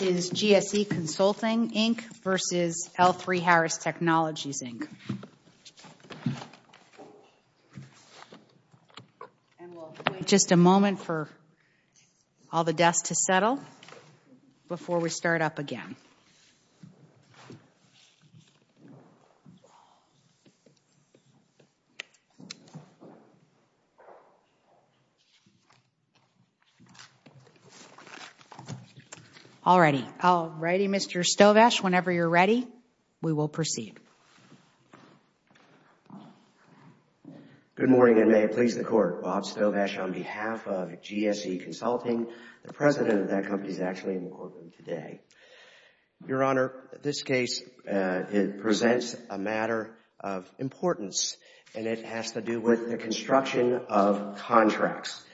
Is GSE Consulting, Inc. v. L3Harris Technologies, Inc. Just a moment for all the desks to settle before we start up again. All righty, Mr. Stovash, whenever you're ready, we will proceed. Good morning, and may it please the Court. Bob Stovash on behalf of GSE Consulting. The president of that company is actually in the courtroom today. Your Honor, this case presents a matter of importance, and it has to do with the construction of contracts.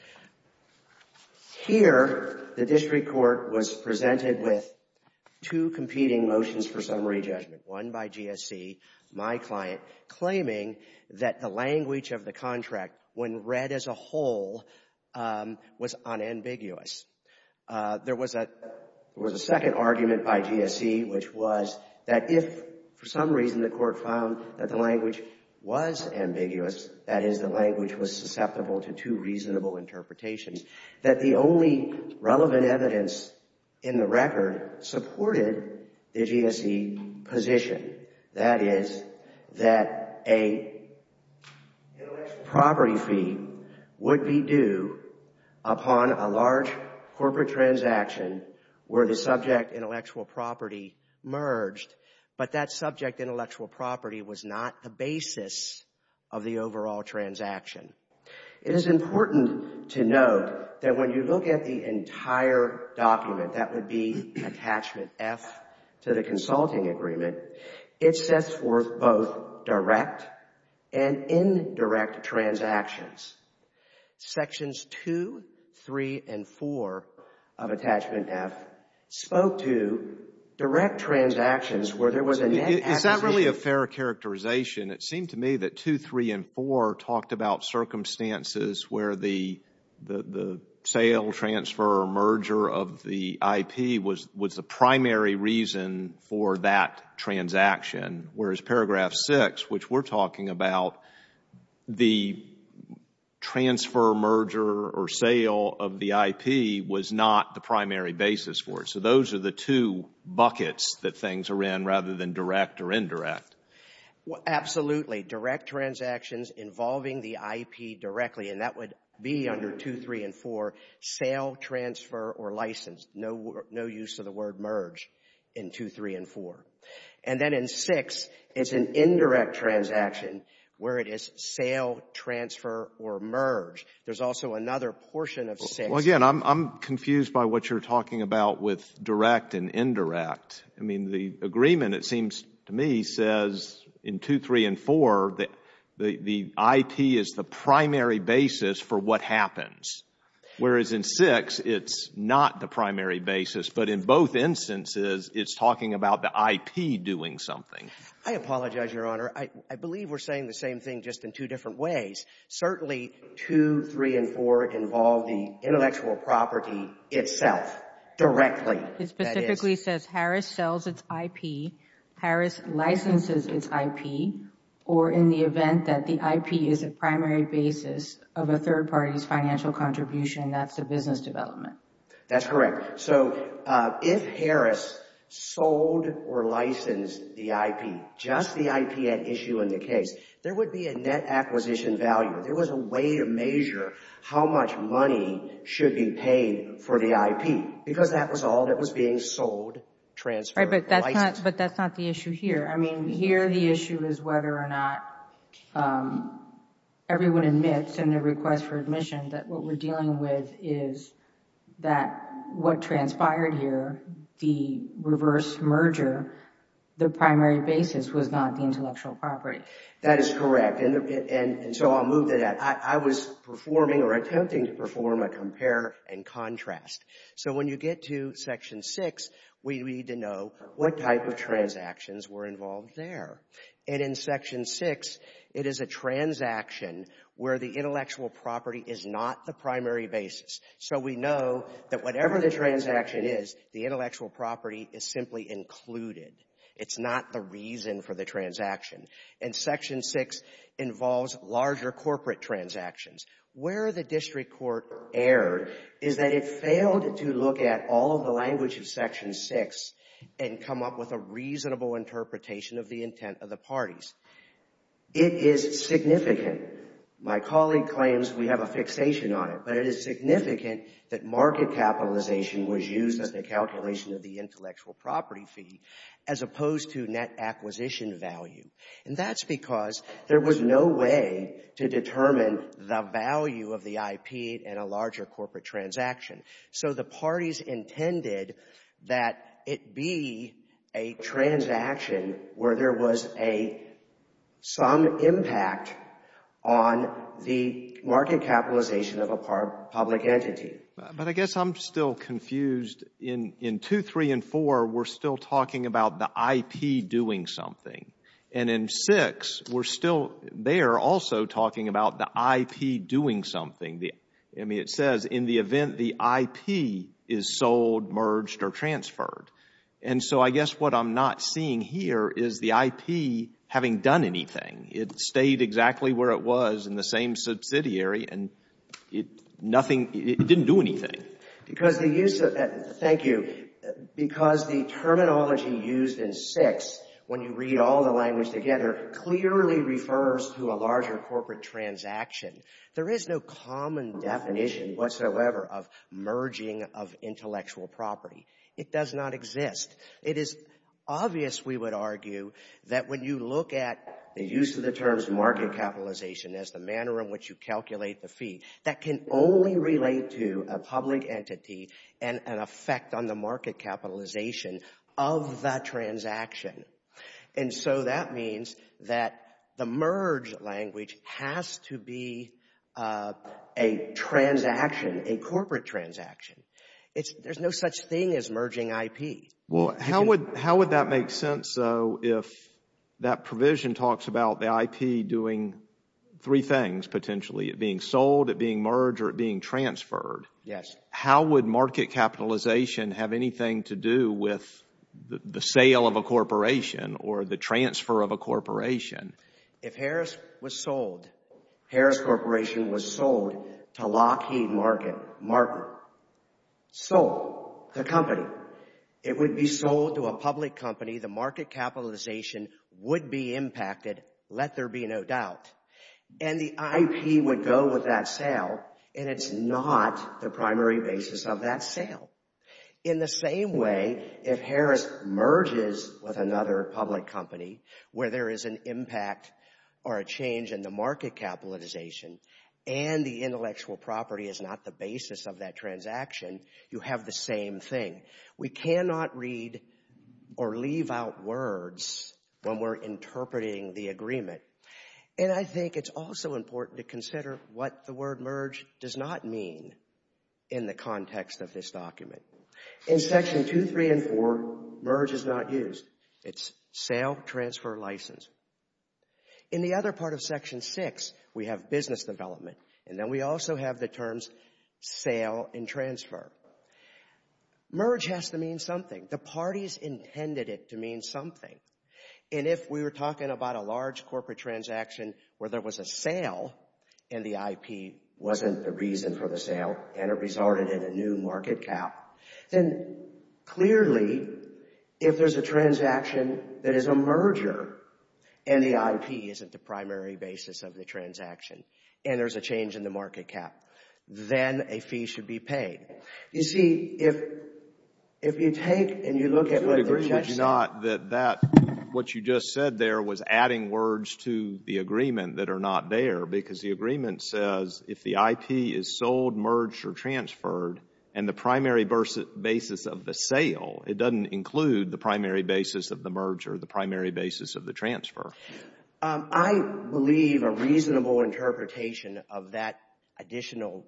Here, the district court was presented with two competing motions for summary judgment. One by GSE, my client, claiming that the language of the contract, when read as a whole, was unambiguous. There was a second argument by GSE, which was that if for some reason the court found that the language was ambiguous, that is, the language was susceptible to two reasonable interpretations, that the only relevant evidence in the record supported the GSE position. That is, that a intellectual property fee would be due upon a large corporate transaction where the subject intellectual property merged. But that subject intellectual property was not the basis of the overall transaction. It is important to note that when you look at the entire document, that would be Attachment F to the consulting agreement, it sets forth both direct and indirect transactions. Sections 2, 3, and 4 of Attachment F spoke to direct transactions where there was a net acquisition. Is that really a fair characterization? It seemed to me that 2, 3, and 4 talked about circumstances where the sale, transfer, or merger of the IP was the primary reason for that transaction. Whereas Paragraph 6, which we are talking about, the transfer, merger, or sale of the IP was not the primary basis for it. So those are the two buckets that things are in rather than direct or indirect. Absolutely. Direct transactions involving the IP directly, and that would be under 2, 3, and 4. Sale, transfer, or license. No use of the word merge in 2, 3, and 4. And then in 6, it's an indirect transaction where it is sale, transfer, or merge. There's also another portion of 6. Well, again, I'm confused by what you're talking about with direct and indirect. I mean, the agreement, it seems to me, says in 2, 3, and 4 that the IP is the primary basis for what happens. Whereas in 6, it's not the primary basis, but in both instances, it's talking about the IP doing something. I apologize, Your Honor. I believe we're saying the same thing just in two different ways. Certainly, 2, 3, and 4 involve the intellectual property itself directly. It specifically says Harris sells its IP, Harris licenses its IP, or in the event that the IP is a primary basis of a third party's financial contribution, that's a business development. That's correct. So if Harris sold or licensed the IP, just the IP at issue in the case, there would be a net acquisition value. There was a way to measure how much money should be paid for the IP because that was all that was being sold, transferred, or licensed. But that's not the issue here. I mean, here the issue is whether or not everyone admits in their request for admission that what we're dealing with is that what transpired here, the reverse merger, the primary basis was not the intellectual property. That is correct. And so I'll move to that. I was performing or attempting to perform a compare and contrast. So when you get to Section 6, we need to know what type of transactions were involved there. And in Section 6, it is a transaction where the intellectual property is not the primary basis. So we know that whatever the transaction is, the intellectual property is simply included. It's not the reason for the transaction. And Section 6 involves larger corporate transactions. Where the district court erred is that it failed to look at all of the language of Section 6 and come up with a reasonable interpretation of the intent of the parties. It is significant. My colleague claims we have a fixation on it, but it is significant that market capitalization was used as the calculation of the intellectual property fee as opposed to net acquisition value. And that's because there was no way to determine the value of the IP in a larger corporate transaction. So the parties intended that it be a transaction where there was some impact on the market capitalization of a public entity. But I guess I'm still confused. In 2, 3, and 4, we're still talking about the IP doing something. And in 6, we're still there also talking about the IP doing something. I mean, it says in the event the IP is sold, merged, or transferred. And so I guess what I'm not seeing here is the IP having done anything. It stayed exactly where it was in the same subsidiary, and it didn't do anything. Thank you. Because the terminology used in 6, when you read all the language together, clearly refers to a larger corporate transaction. There is no common definition whatsoever of merging of intellectual property. It does not exist. It is obvious, we would argue, that when you look at the use of the terms market capitalization as the manner in which you calculate the fee, that can only relate to a public entity and an effect on the market capitalization of that transaction. And so that means that the merge language has to be a transaction, a corporate transaction. There's no such thing as merging IP. Well, how would that make sense, though, if that provision talks about the IP doing three things, potentially, it being sold, it being merged, or it being transferred? Yes. How would market capitalization have anything to do with the sale of a corporation or the transfer of a corporation? If Harris was sold, Harris Corporation was sold to Lockheed Martin, sold, the company. It would be sold to a public company. The market capitalization would be impacted, let there be no doubt. And the IP would go with that sale, and it's not the primary basis of that sale. In the same way, if Harris merges with another public company where there is an impact or a change in the market capitalization and the intellectual property is not the basis of that transaction, you have the same thing. We cannot read or leave out words when we're interpreting the agreement. And I think it's also important to consider what the word merge does not mean in the context of this document. In Section 2, 3, and 4, merge is not used. It's sale, transfer, license. In the other part of Section 6, we have business development, and then we also have the terms sale and transfer. Merge has to mean something. The parties intended it to mean something. And if we were talking about a large corporate transaction where there was a sale and the IP wasn't the reason for the sale and it resulted in a new market cap, then clearly if there's a transaction that is a merger and the IP isn't the primary basis of the transaction and there's a change in the market cap, then a fee should be paid. You see, if you take and you look at what the judge said— I would agree with you not that what you just said there was adding words to the agreement that are not there because the agreement says if the IP is sold, merged, or transferred and the primary basis of the sale, it doesn't include the primary basis of the merger, the primary basis of the transfer. I believe a reasonable interpretation of that additional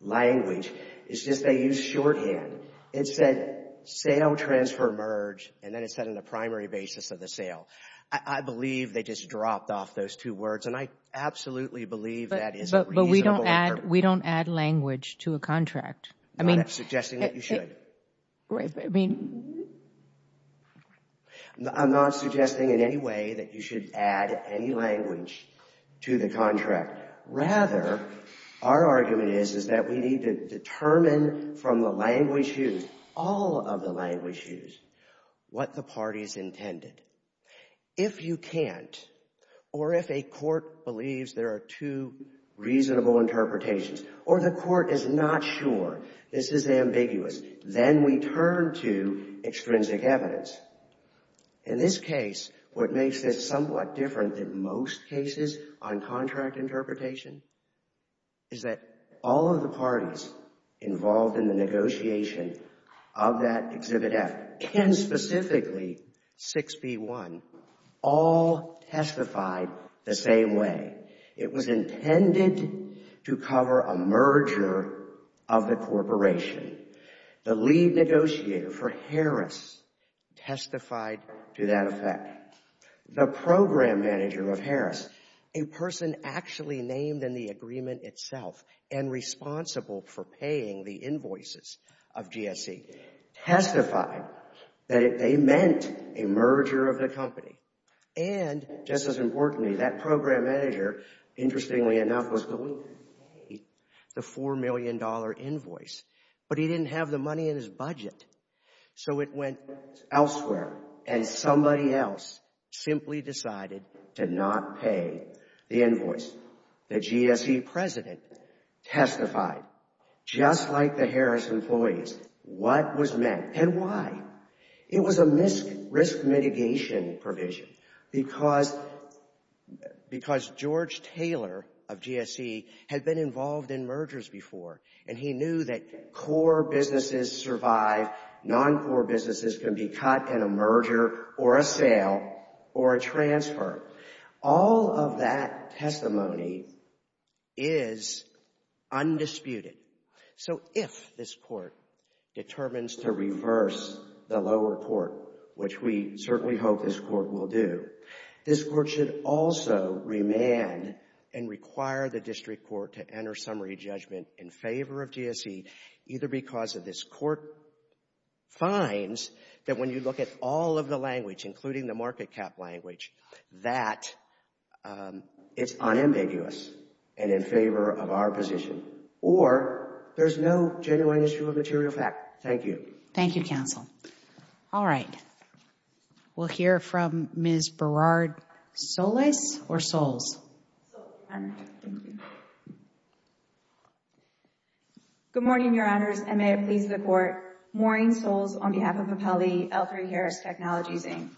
language is just they used shorthand. It said sale, transfer, merge, and then it said on the primary basis of the sale. I believe they just dropped off those two words, and I absolutely believe that is a reasonable— But we don't add language to a contract. I'm not suggesting that you should. I'm not suggesting in any way that you should add any language to the contract. Rather, our argument is that we need to determine from the language used, all of the language used, what the parties intended. If you can't, or if a court believes there are two reasonable interpretations, or the court is not sure, this is ambiguous, then we turn to extrinsic evidence. In this case, what makes this somewhat different than most cases on contract interpretation is that all of the parties involved in the negotiation of that Exhibit F, Ken specifically, 6B1, all testified the same way. It was intended to cover a merger of the corporation. The lead negotiator for Harris testified to that effect. The program manager of Harris, a person actually named in the agreement itself and responsible for paying the invoices of GSE, testified that they meant a merger of the company. And just as importantly, that program manager, interestingly enough, was going to pay the $4 million invoice, but he didn't have the money in his budget. So it went elsewhere, and somebody else simply decided to not pay the invoice. The GSE president testified, just like the Harris employees, what was meant and why. It was a risk mitigation provision because George Taylor of GSE had been involved in mergers before, and he knew that core businesses survive, non-core businesses can be caught in a merger or a sale or a transfer. All of that testimony is undisputed. So if this court determines to reverse the lower court, which we certainly hope this court will do, this court should also remand and require the district court to enter summary judgment in favor of GSE, either because if this court finds that when you look at all of the language, including the market cap language, that it's unambiguous and in favor of our position, or there's no genuine issue of material fact. Thank you. Thank you, counsel. All right. We'll hear from Ms. Berard-Solis or Soles. Good morning, Your Honors, and may it please the court. Maureen Soles on behalf of Appellee L3 Harris Technologies, Inc.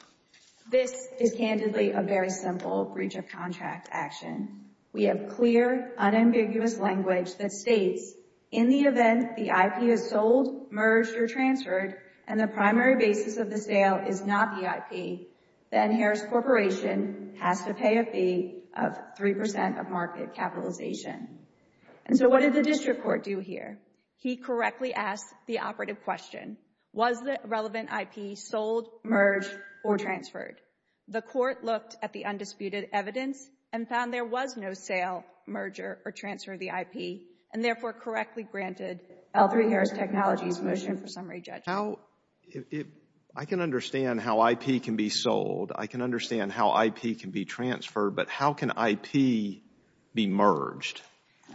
This is candidly a very simple breach of contract action. We have clear, unambiguous language that states in the event the IP is sold, merged, or transferred, and the primary basis of the sale is not the IP, then Harris Corporation has to pay a fee of 3% of market capitalization. And so what did the district court do here? He correctly asked the operative question, was the relevant IP sold, merged, or transferred? The court looked at the undisputed evidence and found there was no sale, merger, or transfer of the IP, and therefore correctly granted L3 Harris Technologies' motion for summary judgment. I can understand how IP can be sold. I can understand how IP can be transferred, but how can IP be merged?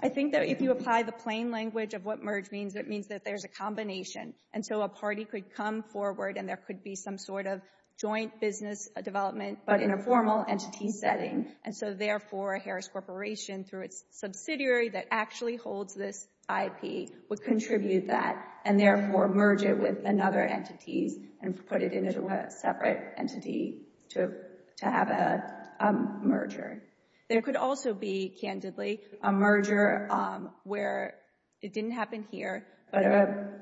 I think that if you apply the plain language of what merge means, it means that there's a combination. And so a party could come forward, and there could be some sort of joint business development, but in a formal entity setting. And so therefore, Harris Corporation, through its subsidiary that actually holds this IP, would contribute that and therefore merge it with another entity and put it into a separate entity to have a merger. There could also be, candidly, a merger where it didn't happen here, but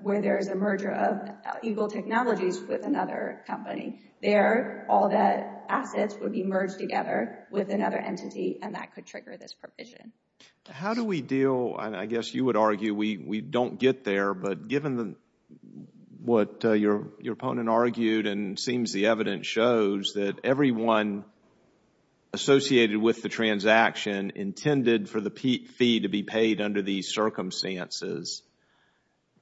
where there is a merger of Eagle Technologies with another company. There, all the assets would be merged together with another entity, and that could trigger this provision. How do we deal, and I guess you would argue we don't get there, but given what your opponent argued, and it seems the evidence shows, that everyone associated with the transaction intended for the fee to be paid under these circumstances,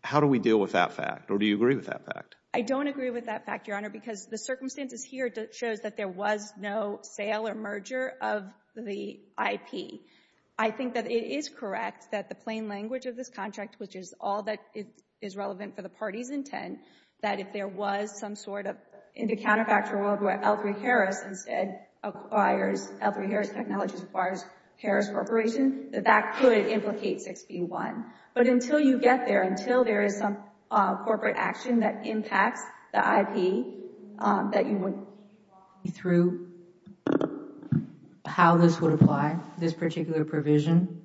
how do we deal with that fact, or do you agree with that fact? I don't agree with that fact, Your Honor, because the circumstances here show that there was no sale or merger of the IP. I think that it is correct that the plain language of this contract, which is all that is relevant for the party's intent, that if there was some sort of, in the counterfactual world where L3Harris instead acquires, L3Harris Technologies acquires Harris Corporation, that that could implicate 6B1. But until you get there, until there is some corporate action that impacts the IP, that you would walk me through how this would apply, this particular provision.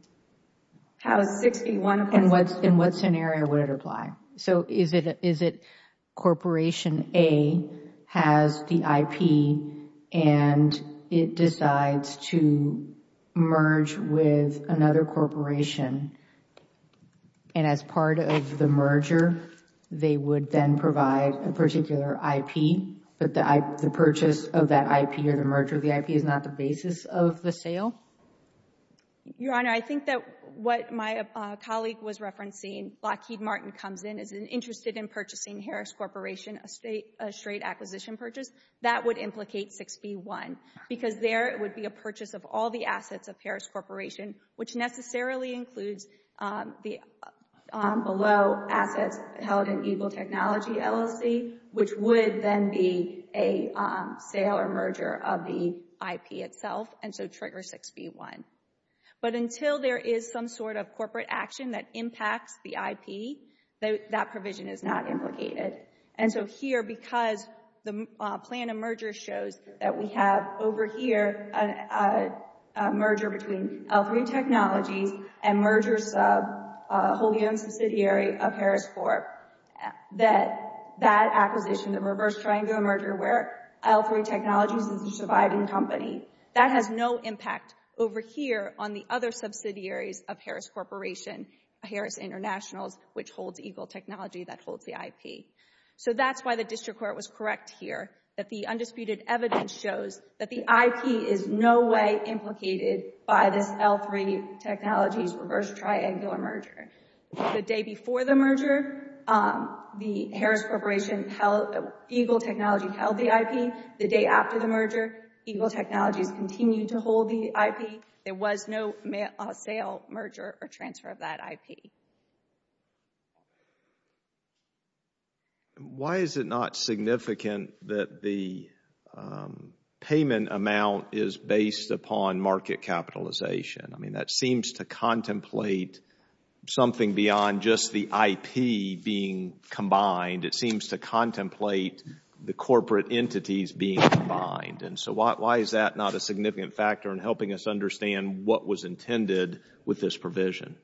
How 6B1 applies? In what scenario would it apply? So is it Corporation A has the IP, and it decides to merge with another corporation, and as part of the merger, they would then provide a particular IP, but the purchase of that IP or the merger of the IP is not the basis of the sale? Your Honor, I think that what my colleague was referencing, Lockheed Martin comes in, is interested in purchasing Harris Corporation, a straight acquisition purchase. That would implicate 6B1, because there would be a purchase of all the assets of Harris Corporation, which necessarily includes the below assets held in Eagle Technology LLC, which would then be a sale or merger of the IP itself, and so trigger 6B1. But until there is some sort of corporate action that impacts the IP, that provision is not implicated. And so here, because the plan of merger shows that we have over here a merger between L3 Technologies and mergers of a wholly owned subsidiary of Harris Corp., that that acquisition, the reverse triangle merger where L3 Technologies is a surviving company, that has no impact over here on the other subsidiaries of Harris Corporation, Harris International, which holds Eagle Technology, that holds the IP. So that's why the district court was correct here, that the undisputed evidence shows that the IP is no way implicated by this L3 Technologies reverse triangular merger. The day before the merger, the Harris Corporation held, Eagle Technology held the IP. The day after the merger, Eagle Technologies continued to hold the IP. There was no sale, merger, or transfer of that IP. Why is it not significant that the payment amount is based upon market capitalization? I mean, that seems to contemplate something beyond just the IP being combined. It seems to contemplate the corporate entities being combined. And so why is that not a significant factor in helping us understand what was intended with this provision?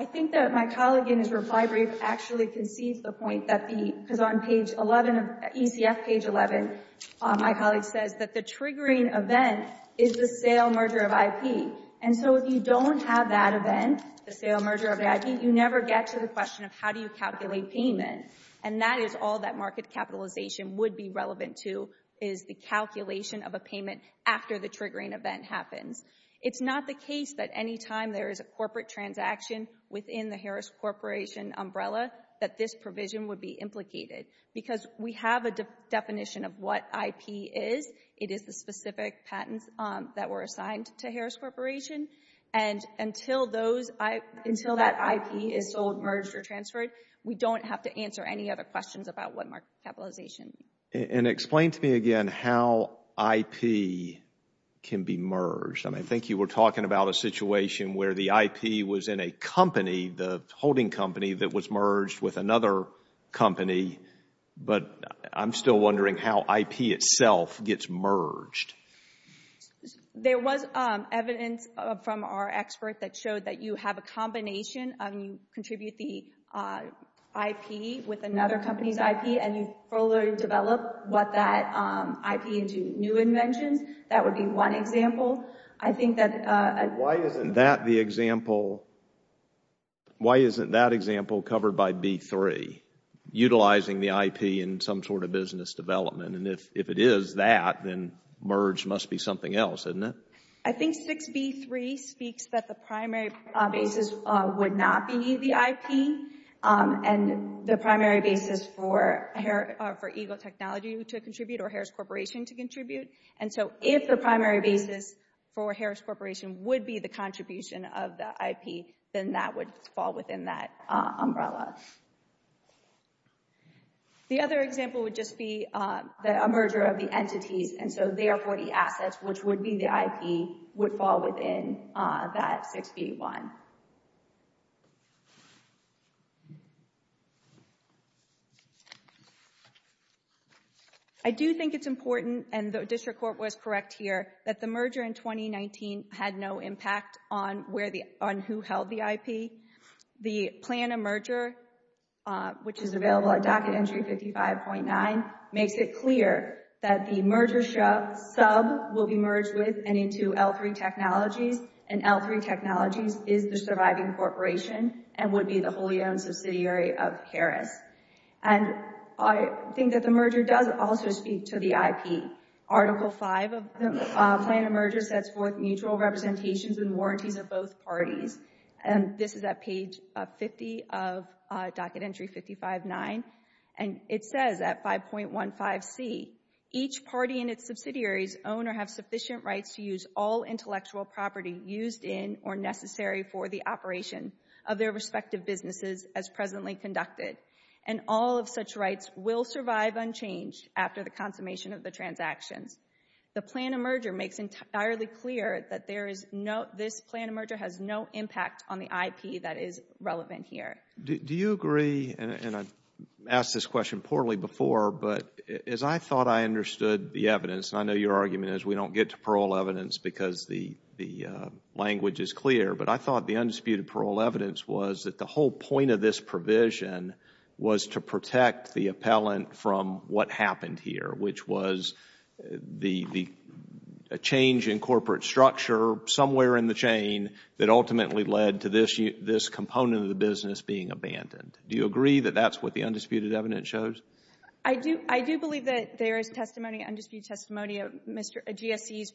I think that my colleague in his reply brief actually concedes the point that the, because on page 11, ECF page 11, my colleague says that the triggering event is the sale merger of IP. And so if you don't have that event, the sale merger of the IP, you never get to the question of how do you calculate payment. And that is all that market capitalization would be relevant to, is the calculation of a payment after the triggering event happens. It's not the case that any time there is a corporate transaction within the Harris Corporation umbrella that this provision would be implicated because we have a definition of what IP is. It is the specific patents that were assigned to Harris Corporation. And until those, until that IP is sold, merged, or transferred, we don't have to answer any other questions about what market capitalization. And explain to me again how IP can be merged. I mean, I think you were talking about a situation where the IP was in a company, the holding company that was merged with another company, but I'm still wondering how IP itself gets merged. There was evidence from our expert that showed that you have a combination. You contribute the IP with another company's IP, and you further develop what that IP into new inventions. That would be one example. I think that... Why isn't that the example, why isn't that example covered by B3, utilizing the IP in some sort of business development? And if it is that, then merge must be something else, isn't it? I think 6B3 speaks that the primary basis would not be the IP and the primary basis for Eagle Technology to contribute or Harris Corporation to contribute. And so if the primary basis for Harris Corporation would be the contribution of the IP, then that would fall within that umbrella. The other example would just be a merger of the entities, and so therefore the assets, which would be the IP, would fall within that 6B1. I do think it's important, and the district court was correct here, that the merger in 2019 had no impact on who held the IP. The plan of merger, which is available at Docket Entry 55.9, makes it clear that the merger sub will be merged with and into L3 Technologies, and L3 Technologies is the surviving corporation and would be the wholly owned subsidiary of Harris. And I think that the merger does also speak to the IP. Article 5 of the plan of merger sets forth mutual representations and warranties of both parties. This is at page 50 of Docket Entry 55.9, and it says at 5.15c, each party and its subsidiaries own or have sufficient rights to use all intellectual property used in or necessary for the operation of their respective businesses as presently conducted, and all of such rights will survive unchanged after the consummation of the transactions. The plan of merger makes entirely clear that this plan of merger has no impact on the IP that is relevant here. Do you agree, and I've asked this question poorly before, but as I thought I understood the evidence, and I know your argument is we don't get to parole evidence because the language is clear, but I thought the undisputed parole evidence was that the whole point of this provision was to protect the appellant from what happened here, which was the change in corporate structure somewhere in the chain that ultimately led to this component of the business being abandoned. Do you agree that that's what the undisputed evidence shows? I do believe that there is testimony, undisputed testimony of GSC's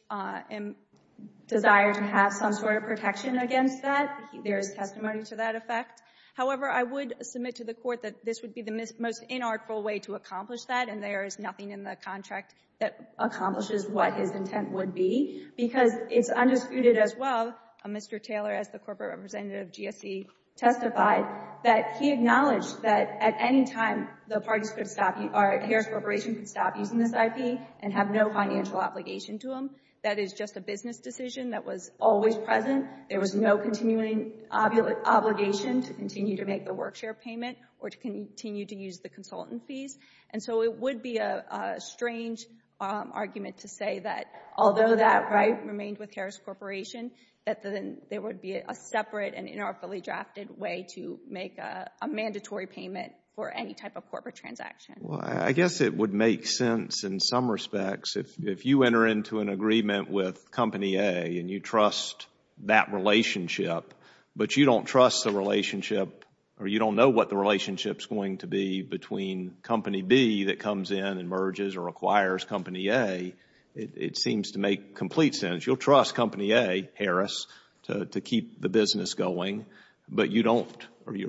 desire to have some sort of protection against that. There is testimony to that effect. However, I would submit to the Court that this would be the most inartful way to accomplish that, and there is nothing in the contract that accomplishes what his intent would be, because it's undisputed as well, Mr. Taylor, as the corporate representative of GSC testified, that he acknowledged that at any time the parties could stop, or Harris Corporation could stop using this IP and have no financial obligation to him. That is just a business decision that was always present. There was no continuing obligation to continue to make the work share payment or to continue to use the consultant fees. And so it would be a strange argument to say that although that right remained with Harris Corporation, that there would be a separate and inartfully drafted way to make a mandatory payment for any type of corporate transaction. Well, I guess it would make sense in some respects if you enter into an agreement with Company A and you trust that relationship, but you don't trust the relationship or you don't know what the relationship is going to be between Company B that comes in and merges or acquires Company A, it seems to make complete sense. You'll trust Company A, Harris, to keep the business going, but you're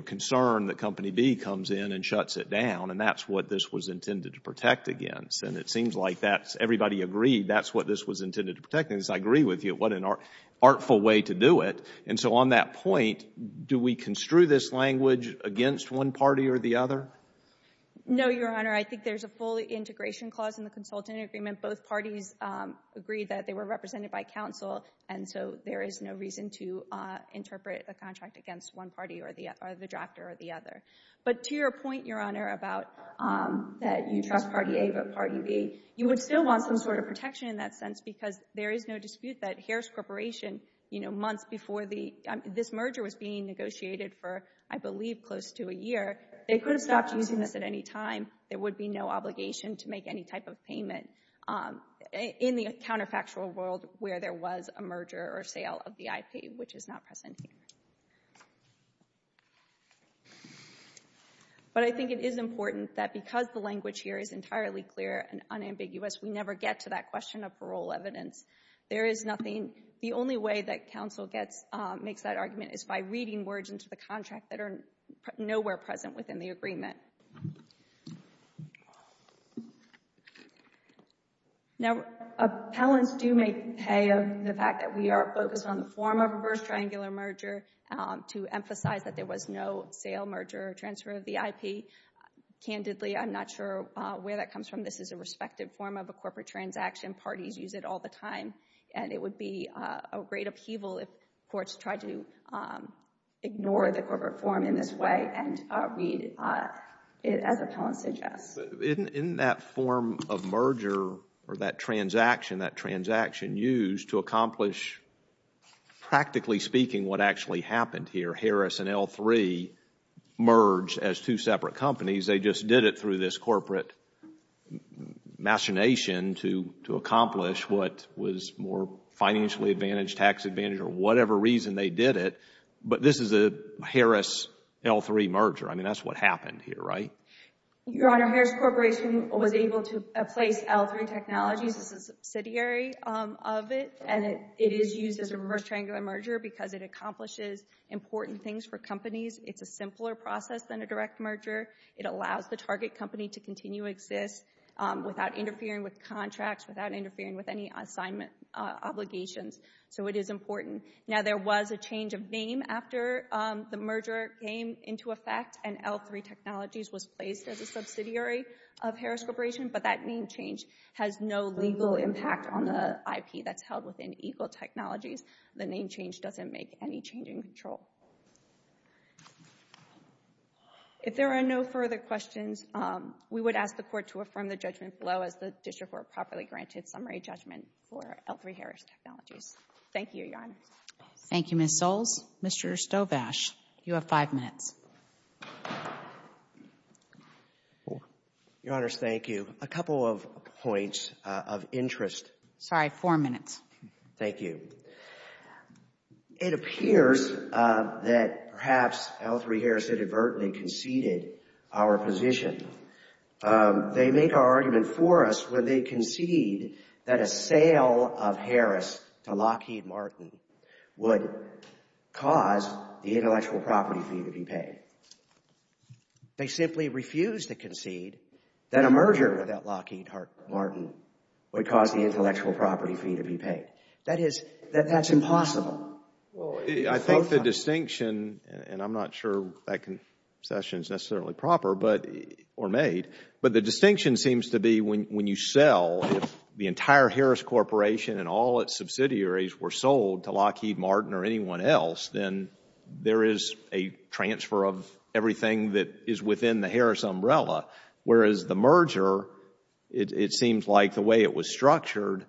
concerned that Company B comes in and shuts it down, and that's what this was intended to protect against. And it seems like everybody agreed that's what this was intended to protect against. I agree with you. What an artful way to do it. And so on that point, do we construe this language against one party or the other? No, Your Honor. I think there's a full integration clause in the consultant agreement. Both parties agreed that they were represented by counsel, and so there is no reason to interpret a contract against one party or the other, the drafter or the other. But to your point, Your Honor, about that you trust Party A but Party B, you would still want some sort of protection in that sense because there is no dispute that Harris Corporation, you know, months before this merger was being negotiated for, I believe, close to a year, they could have stopped using this at any time. There would be no obligation to make any type of payment in the counterfactual world where there was a merger or sale of the IP, which is not present here. But I think it is important that because the language here is entirely clear and unambiguous, we never get to that question of parole evidence. There is nothing. The only way that counsel makes that argument is by reading words into the contract that are nowhere present within the agreement. Now, appellants do make pay of the fact that we are focused on the form of a first triangular merger to emphasize that there was no sale, merger, or transfer of the IP. Candidly, I am not sure where that comes from. This is a respective form of a corporate transaction. Parties use it all the time. And it would be a great upheaval if courts tried to ignore the corporate form in this way and read it as appellants suggest. In that form of merger or that transaction, that transaction used to accomplish, practically speaking, what actually happened here, where Harris and L3 merged as two separate companies. They just did it through this corporate machination to accomplish what was more financially advantaged, tax advantaged, or whatever reason they did it. But this is a Harris-L3 merger. I mean, that is what happened here, right? Your Honor, Harris Corporation was able to place L3 Technologies as a subsidiary of it. And it is used as a first triangular merger because it accomplishes important things for companies. It's a simpler process than a direct merger. It allows the target company to continue to exist without interfering with contracts, without interfering with any assignment obligations. So it is important. Now, there was a change of name after the merger came into effect and L3 Technologies was placed as a subsidiary of Harris Corporation. But that name change has no legal impact on the IP that's held within Eagle Technologies. The name change doesn't make any change in control. If there are no further questions, we would ask the Court to affirm the judgment below as the District Court properly granted summary judgment for L3 Harris Technologies. Thank you, Your Honor. Thank you, Ms. Soles. Mr. Stobash, you have five minutes. Your Honors, thank you. A couple of points of interest. Sorry, four minutes. Thank you. It appears that perhaps L3 Harris inadvertently conceded our position. They make our argument for us when they concede that a sale of Harris to Lockheed Martin would cause the intellectual property fee to be paid. They simply refuse to concede that a merger without Lockheed Martin would cause the intellectual property fee to be paid. That is, that's impossible. I think the distinction, and I'm not sure that concession is necessarily proper or made, but the distinction seems to be when you sell, if the entire Harris Corporation and all its subsidiaries were sold to Lockheed Martin or anyone else, then there is a transfer of everything that is within the Harris umbrella, whereas the merger, it seems like the way it was structured,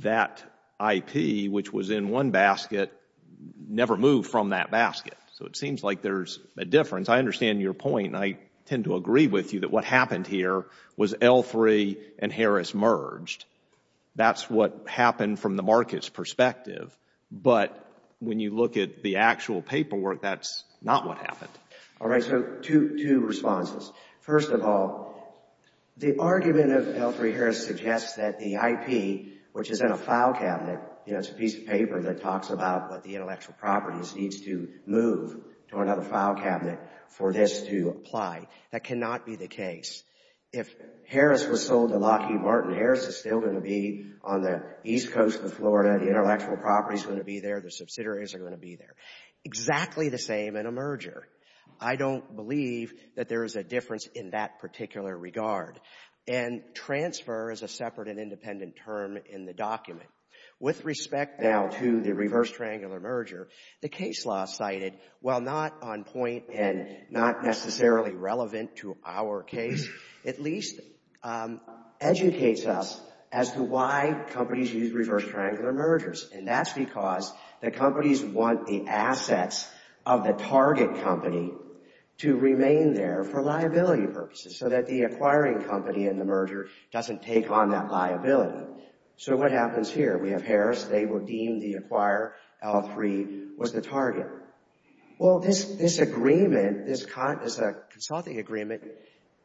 that IP, which was in one basket, never moved from that basket. So it seems like there's a difference. I understand your point, and I tend to agree with you that what happened here was L3 and Harris merged. That's what happened from the market's perspective. But when you look at the actual paperwork, that's not what happened. All right, so two responses. First of all, the argument of L3-Harris suggests that the IP, which is in a file cabinet, it's a piece of paper that talks about what the intellectual properties needs to move to another file cabinet for this to apply. That cannot be the case. If Harris was sold to Lockheed Martin, Harris is still going to be on the east coast of Florida. The intellectual property is going to be there. The subsidiaries are going to be there. Exactly the same in a merger. I don't believe that there is a difference in that particular regard. And transfer is a separate and independent term in the document. With respect now to the reverse triangular merger, the case law cited, while not on point and not necessarily relevant to our case, at least educates us as to why companies use reverse triangular mergers. And that's because the companies want the assets of the target company to remain there for liability purposes, so that the acquiring company in the merger doesn't take on that liability. So what happens here? We have Harris. They redeemed the acquire. L3 was the target. Well, this agreement, this consulting agreement,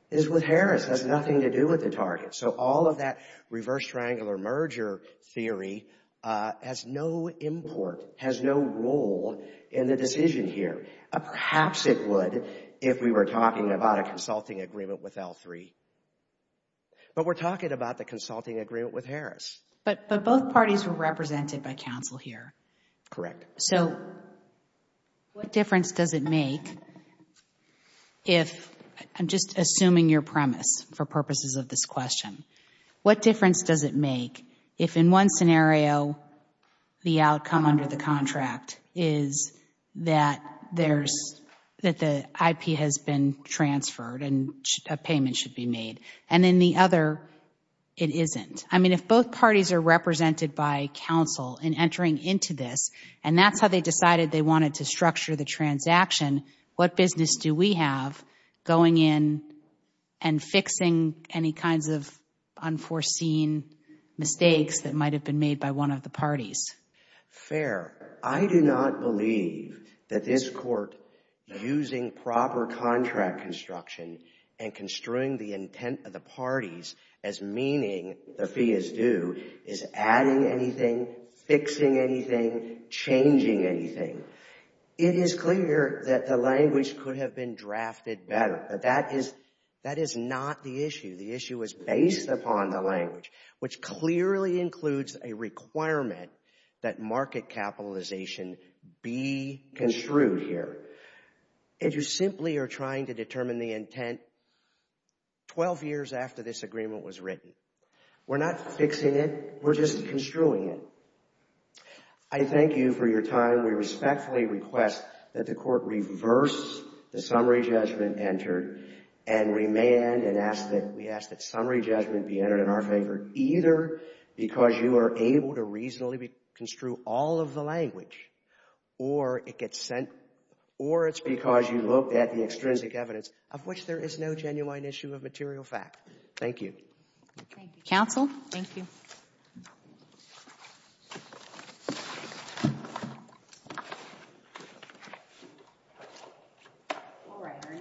is with Harris. It has nothing to do with the target. So all of that reverse triangular merger theory has no import, has no role in the decision here. Perhaps it would if we were talking about a consulting agreement with L3. But we're talking about the consulting agreement with Harris. But both parties were represented by counsel here. Correct. So what difference does it make if ‑‑ I'm just assuming your premise for purposes of this question. What difference does it make if, in one scenario, the outcome under the contract is that the IP has been transferred and a payment should be made, and in the other it isn't? I mean, if both parties are represented by counsel in entering into this and that's how they decided they wanted to structure the transaction, what business do we have going in and fixing any kinds of unforeseen mistakes that might have been made by one of the parties? Fair. I do not believe that this Court using proper contract construction and construing the intent of the parties as meaning the fee is due is adding anything, fixing anything, changing anything. It is clear that the language could have been drafted better, but that is not the issue. The issue is based upon the language, which clearly includes a requirement that market capitalization be construed here. And you simply are trying to determine the intent 12 years after this agreement was written. We're not fixing it. We're just construing it. I thank you for your time. We respectfully request that the Court reverse the summary judgment entered and remand and ask that summary judgment be entered in our favor, either because you are able to reasonably construe all of the language or it's because you looked at the extrinsic evidence of which there is no genuine issue of material fact. Thank you. Thank you, Counsel. Thank you.